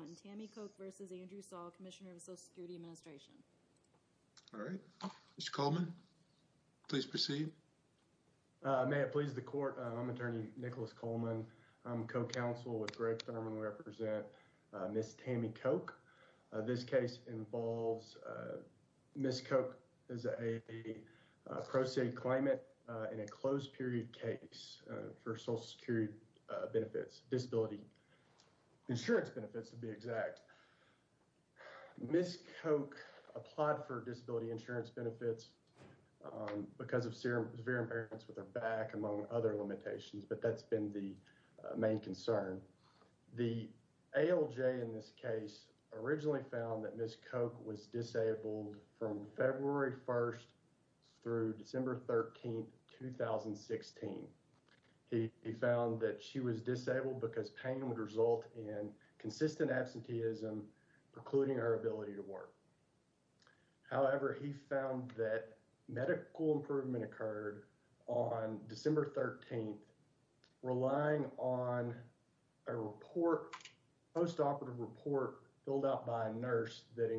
and Tammy Koch versus Andrew Saul, Commissioner of the Social Security Administration. All right. Mr. Coleman, please proceed. May it please the court. I'm attorney Nicholas Coleman. I'm co-counsel with Greg Thurman. I represent Ms. Tammy Koch. This case involves Ms. Koch as a pro se climate in a closed period case for social security benefits, disability insurance benefits to be exact. Ms. Koch applied for disability insurance benefits because of severe impairments with her back among other limitations, but that's been the main concern. The ALJ in this case originally found that Ms. Koch was disabled from February 1st through December 13th, 2016. He found that she was disabled because pain would result in consistent absenteeism precluding her ability to work. However, he found that medical improvement occurred on December 13th, relying on a report, postoperative report filled out by a nurse that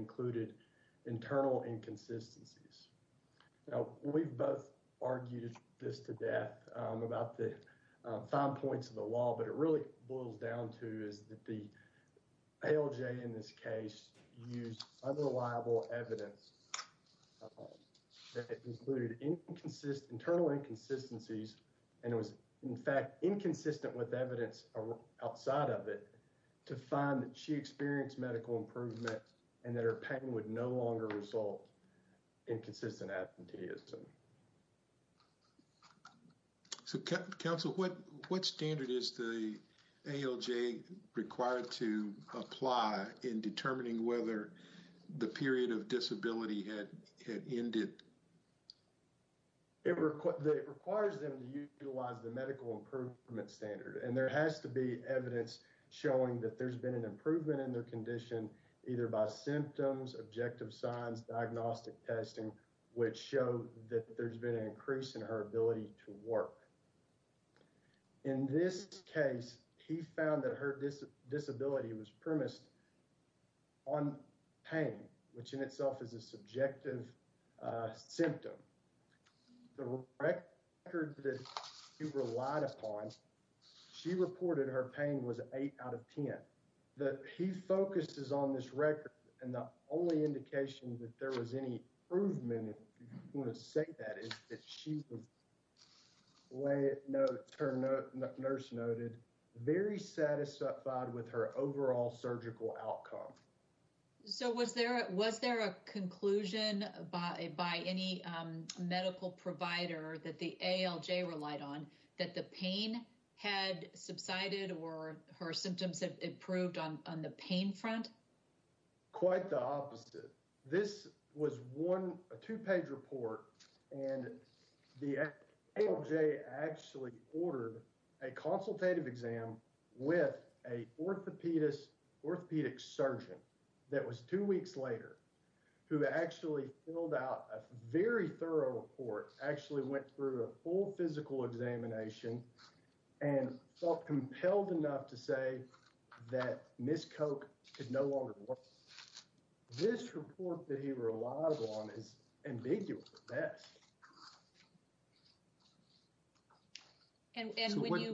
we've both argued this to death about the five points of the law, but it really boils down to is that the ALJ in this case used unreliable evidence that included internal inconsistencies and it was in fact inconsistent with evidence outside of it to find that she experienced medical improvement and that her pain would no longer result in consistent absenteeism. So Council, what standard is the ALJ required to apply in determining whether the period of disability had ended? It requires them to utilize the medical improvement standard and there has to be evidence showing that there's been an improvement in their condition either by symptoms, objective signs, diagnostic testing, which show that there's been an increase in her ability to work. In this case, he found that her disability was premised on pain, which in itself is a subjective symptom. The record that he relied upon she reported her pain was 8 out of 10. He focuses on this record and the only indication that there was any improvement, if you want to say that, is that she was, her nurse noted, very satisfied with her overall surgical outcome. So was there a conclusion by any medical provider that the ALJ relied on that the pain had subsided or her symptoms had improved on the pain front? Quite the opposite. This was a two-page report and the ALJ actually ordered a consultative exam with a orthopedic surgeon that was two weeks later who actually filled out a very thorough report, actually went through a full physical examination and felt compelled enough to say that Ms. Koch could no longer work. This report that he relied on is ambiguous at best. And when you,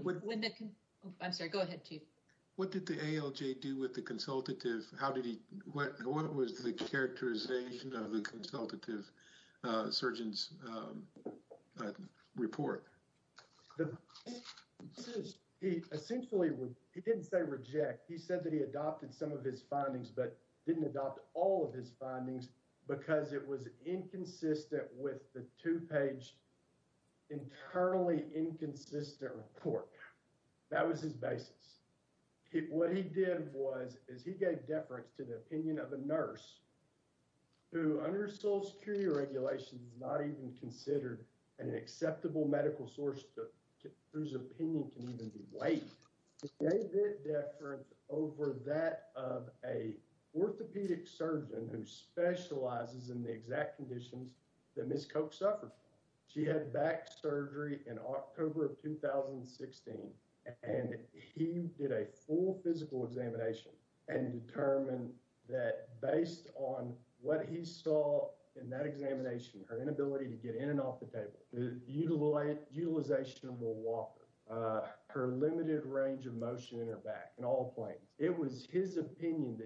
I'm sorry, go ahead Chief. What did the ALJ do with the consultative surgeon's report? He essentially, he didn't say reject, he said that he adopted some of his findings but didn't adopt all of his findings because it was inconsistent with the two-page internally inconsistent report. That was his basis. What he did was, is he gave deference to the opinion of a nurse who under Social Security regulations is not even considered an acceptable medical source whose opinion can even be weighed. He gave that deference over that of a orthopedic surgeon who specializes in the exact conditions that Ms. Koch suffered from. She had back surgery in October of 2016 and he did a full physical examination and determined that based on what he saw in that examination, her inability to get in and off the table, utilization of a walker, her limited range of motion in her back in all planes, it was his opinion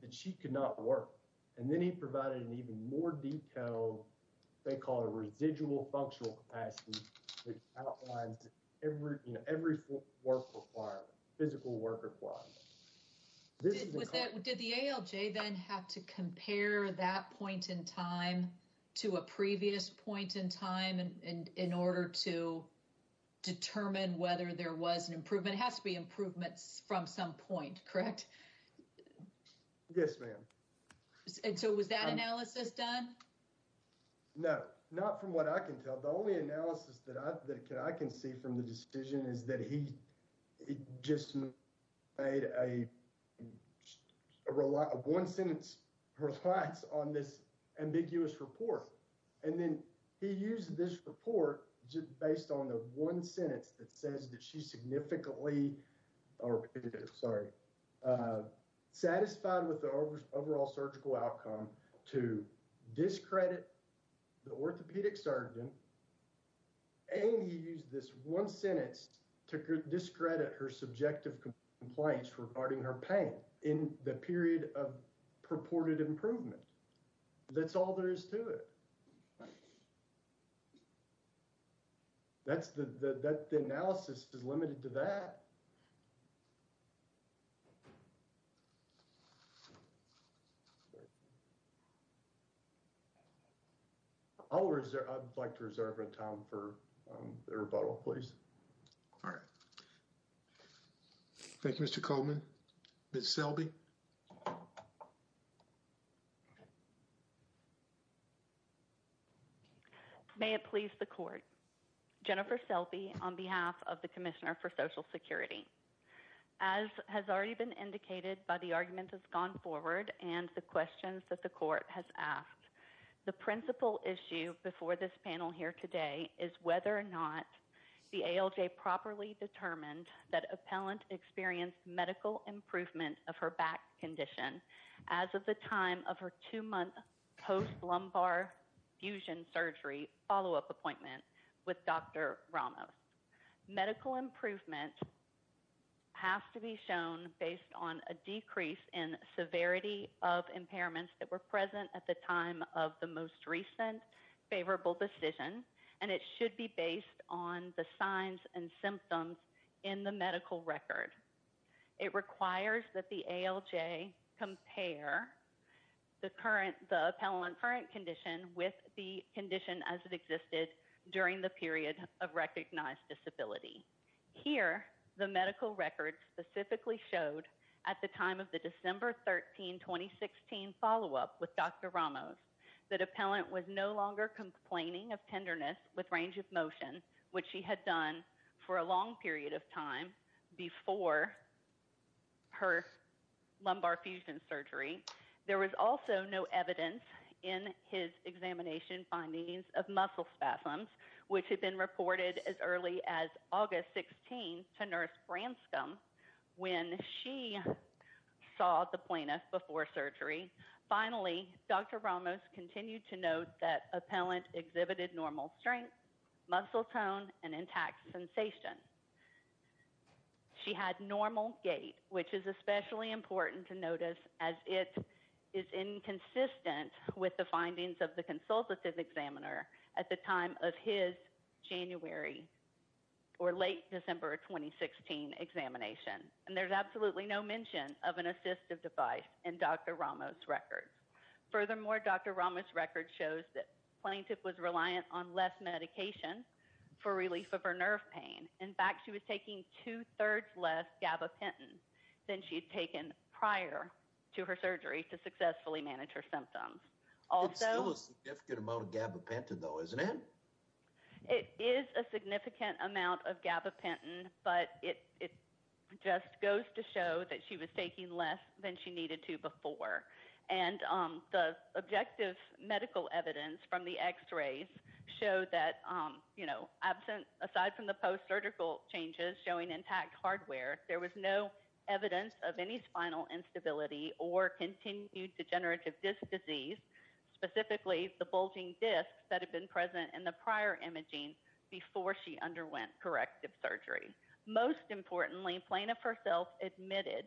that she could not work. And then he provided an even more detailed, they call it a residual functional capacity, which outlines every work requirement, physical work requirement. Did the ALJ then have to compare that point in time to a previous point in time in order to determine whether there was an improvement? It has to be improvements from some point, correct? Yes, ma'am. And so was that analysis done? No, not from what I can tell. The only analysis that I can see from the decision is that he just made a one-sentence reliance on this ambiguous report. And then he used this report just based on the sentence that says that she's significantly, or sorry, satisfied with the overall surgical outcome to discredit the orthopedic surgeon and he used this one sentence to discredit her subjective compliance regarding her pain in the period of purported improvement. That's all there is to it. All right. That's the, that the analysis is limited to that. I'll reserve, I'd like to reserve a time for the rebuttal, please. All right. Thank you, Mr. Coleman. Ms. Selby. May it please the Court. Jennifer Selby on behalf of the Commissioner for Social Security. As has already been indicated by the arguments that's gone forward and the questions that the ALJ properly determined, that appellant experienced medical improvement of her back condition as of the time of her two-month post-lumbar fusion surgery follow-up appointment with Dr. Ramos. Medical improvement has to be shown based on a decrease in severity of impairments that were and symptoms in the medical record. It requires that the ALJ compare the current, the appellant current condition with the condition as it existed during the period of recognized disability. Here, the medical record specifically showed at the time of the December 13, 2016 follow-up with Dr. Ramos that appellant was no longer complaining of tenderness with range of motion, which she had done for a long period of time before her lumbar fusion surgery. There was also no evidence in his examination findings of muscle spasms, which had been reported as early as August 16 to Nurse Branscombe when she saw the plaintiff before surgery. Finally, Dr. Ramos continued to note that an intact sensation. She had normal gait, which is especially important to notice as it is inconsistent with the findings of the consultative examiner at the time of his January or late December 2016 examination. And there's absolutely no mention of an assistive device in Dr. Ramos' records. Furthermore, Dr. Ramos' record shows that plaintiff was reliant on less medication for relief of her nerve pain. In fact, she was taking two-thirds less gabapentin than she'd taken prior to her surgery to successfully manage her symptoms. It's still a significant amount of gabapentin though, isn't it? It is a significant amount of gabapentin, but it just goes to show that she was taking less than she needed to before. And the objective medical evidence from the x-rays showed that, you know, absent, aside from the post-surgical changes showing intact hardware, there was no evidence of any spinal instability or continued degenerative disc disease, specifically the bulging discs that had been present in the prior imaging before she underwent corrective surgery. Most importantly, plaintiff herself admitted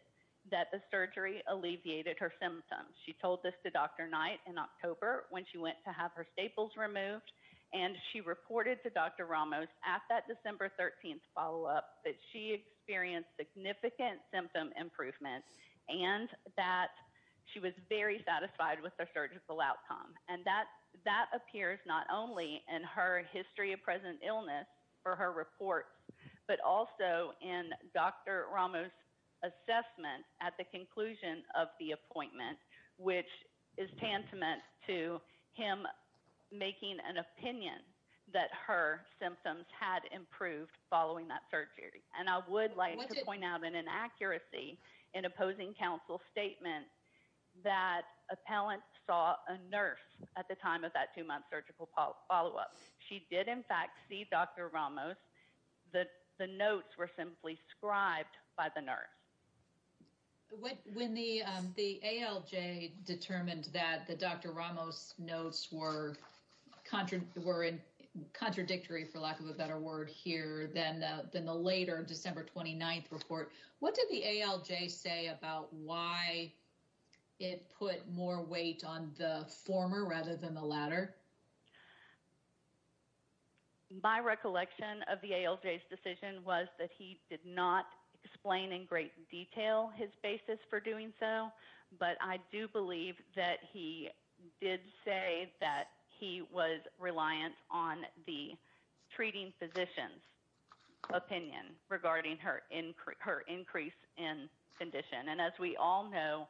that the surgery alleviated her symptoms. She told this to Dr. Knight in October when she went to have her staples removed, and she reported to Dr. Ramos at that December 13th follow-up that she experienced significant symptom improvement and that she was very satisfied with her surgical outcome. And that appears not only in her history of present illness for her report, but also in Dr. Ramos' assessment at the conclusion of the appointment, which is tantamount to him making an opinion that her symptoms had improved following that surgery. And I would like to point out an inaccuracy in opposing counsel's statement that appellant saw a nurse at the time of that two-month surgical follow-up. She did, in fact, see Dr. Ramos. The notes were simply scribed by the nurse. When the ALJ determined that Dr. Ramos' notes were contradictory, for lack of a better word, here, than the later December 29th report, what did the ALJ say about why it put more weight on the former rather than the latter? My recollection of the ALJ's decision was that he did not explain in great detail his basis for doing so, but I do believe that he did say that he was reliant on the treating physician's opinion regarding her increase in condition. And as we all know,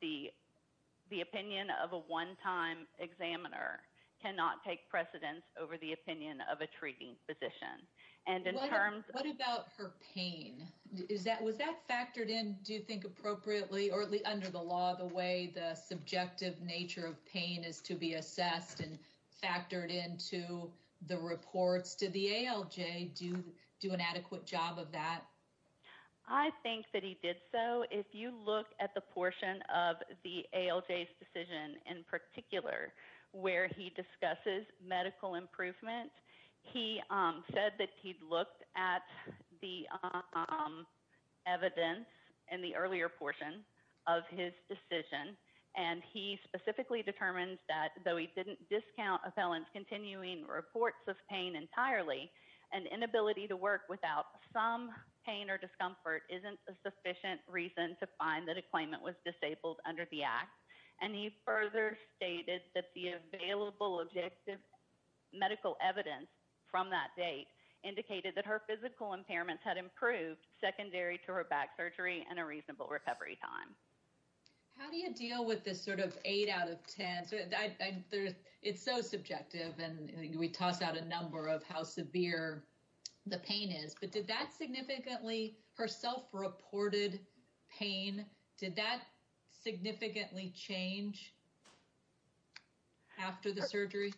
the opinion of a one-time examiner cannot take precedence over the opinion of a treating physician. What about her pain? Was that factored in, do you think, appropriately or under the law, the way the subjective nature of pain is to be assessed and factored into the reports? Did the ALJ do an adequate job of that? I think that he did so. If you look at the portion of the ALJ's decision, in particular, where he discusses medical improvement, he said that he'd looked at the evidence in the earlier portion of his decision, and he specifically determined that, though he didn't discount appellants continuing reports of pain entirely, an inability to work without some pain or discomfort isn't a sufficient reason to find that a claimant was disabled under the act. And he further stated that the available objective medical evidence from that date indicated that her physical impairments had improved secondary to her back surgery and a reasonable recovery time. How do you deal with this sort of 8 out of 10? It's so subjective, and we toss out a number of how severe the pain is, but did that significantly, her self-reported pain, did that significantly change after the surgery?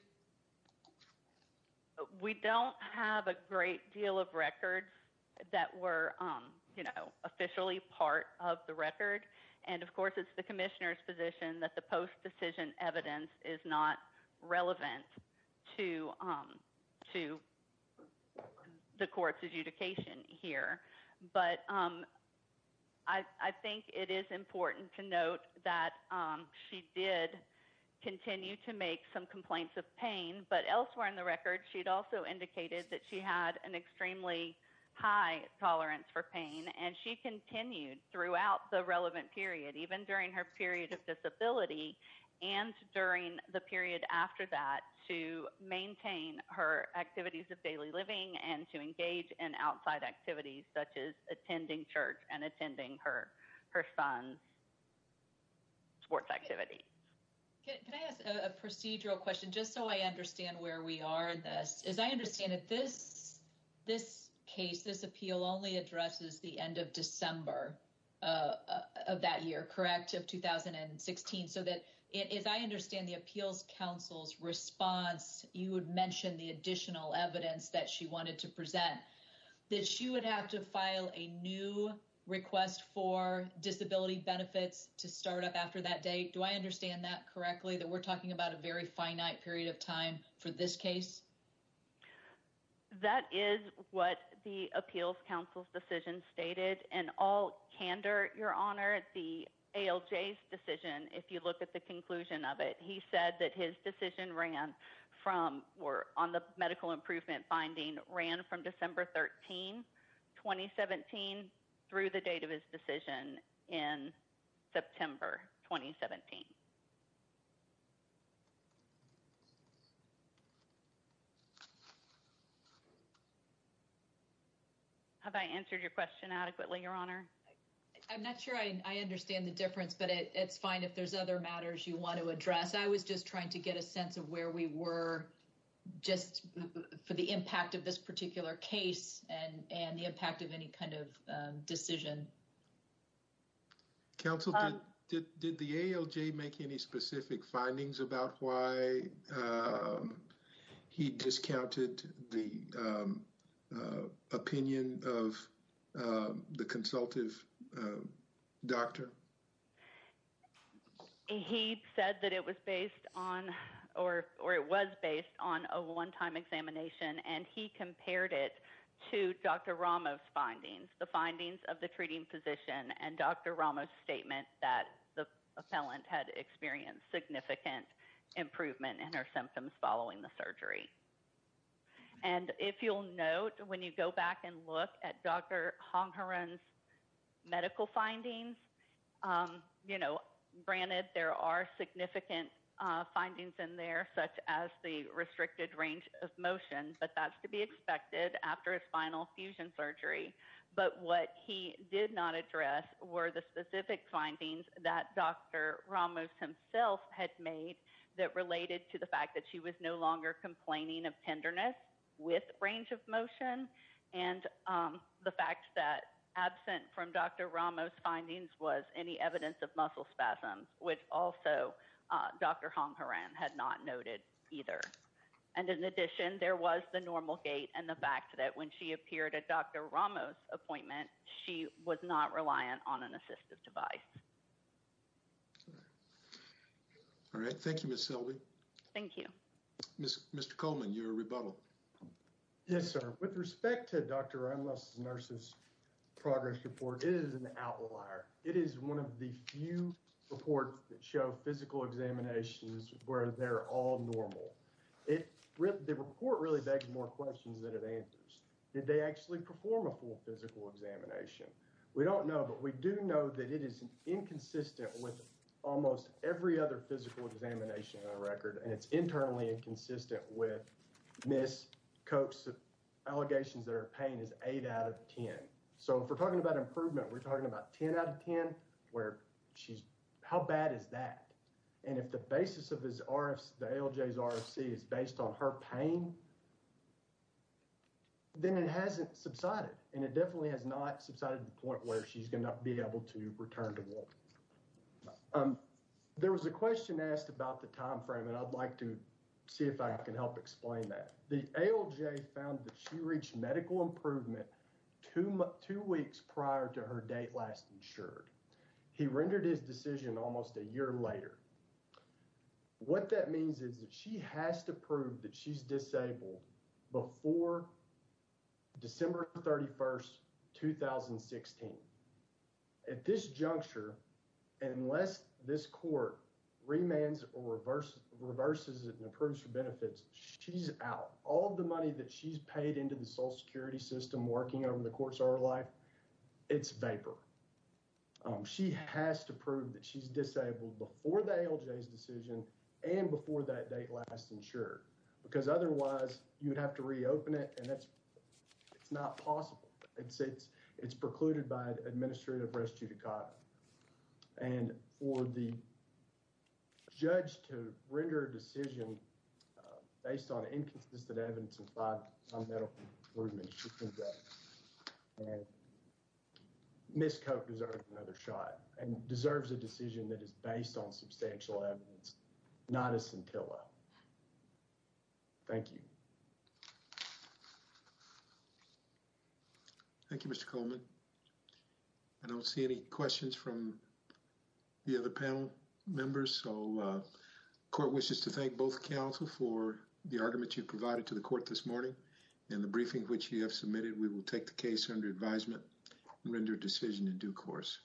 We don't have a great deal of records that were officially part of the record, and of course it's the commissioner's position that the post-decision evidence is not relevant to the court's adjudication here. But I think it is important to note that she did continue to make some complaints of pain, but elsewhere in the record, she'd also indicated that she had an even during her period of disability and during the period after that to maintain her activities of daily living and to engage in outside activities such as attending church and attending her son's sports activity. Can I ask a procedural question just so I understand where we are in this? I understand that this case, this appeal only addresses the end of December of that year, correct, of 2016. So that if I understand the appeals counsel's response, you would mention the additional evidence that she wanted to present, that she would have to file a new request for disability benefits to start up after that date. Do I understand that time for this case? That is what the appeals counsel's decision stated. And all candor, your honor, the ALJ's decision, if you look at the conclusion of it, he said that his decision on the medical improvement finding ran from December 13, 2017 through the date of his decision in September 2017. Have I answered your question adequately, your honor? I'm not sure I understand the difference, but it's fine if there's other matters you want to address. I was just trying to get a sense of where we were just for the impact of this particular case and the impact of any kind of counsel. Did the ALJ make any specific findings about why he discounted the opinion of the consultative doctor? He said that it was based on or it was based on a one-time examination and he compared it to Dr. Ramos' findings, the findings of the treating physician and Dr. Ramos' statement that the appellant had experienced significant improvement in her symptoms following the surgery. And if you'll note, when you go back and look at Dr. Hongharan's medical findings, you know, granted there are significant findings in there such as the restricted range of motion, but that's to be expected after a spinal fusion surgery. But what he did not address were the specific findings that Dr. Ramos himself had made that related to the fact that she was no longer complaining of tenderness with range of motion and the fact that absent from Dr. Ramos' findings was any evidence of muscle spasms, which also Dr. Hongharan had not noted either. And in addition, there was the normal gait and the fact that when she appeared at Dr. Ramos' appointment, she was not reliant on an assistive device. All right. Thank you, Ms. Selby. Thank you. Mr. Coleman, your rebuttal. Yes, sir. With respect to Dr. Ramos' nurse's progress report, it is an outlier. It is one of the few reports that show physical examinations where they're all normal. The report really begs more questions than it answers. Did they actually perform a full physical examination? We don't know, but we do know that it is inconsistent with almost every other physical examination on record, and it's internally inconsistent with Ms. Koch's allegations that her pain is 8 out of 10. So if we're talking about improvement, we're talking about 10 out of 10. If we're talking about improvement, if we're talking about improvement because the ALJ's RFC is based on her pain, then it hasn't subsided, and it definitely has not subsided to the point where she's going to be able to return to work. There was a question asked about the time frame, and I'd like to see if I can help explain that. The ALJ found that she reached medical improvement two weeks prior to her date last insured. He rendered his decision almost a year later. What that means is that she has to prove that she's disabled before December 31, 2016. At this juncture, unless this court remands or reverses it and approves for benefits, she's out. All of the money that she's paid into the Social Security system working over the course of her life, it's vapor. She has to prove that she's disabled before the ALJ's decision and before that date last insured, because otherwise you'd have to reopen it, and it's not possible. It's precluded by administrative res judicata, and for the judge to render a decision based on inconsistent evidence on medical improvement, she can go. Ms. Koch deserves another shot and deserves a decision that is based on substantial evidence, not a scintilla. Thank you. Thank you, Mr. Coleman. I don't see any questions from the other panel members, so court wishes to thank both counsel for the argument you provided to the court this morning and the briefing which you have submitted. We will take the case under advisement and render a decision in due course.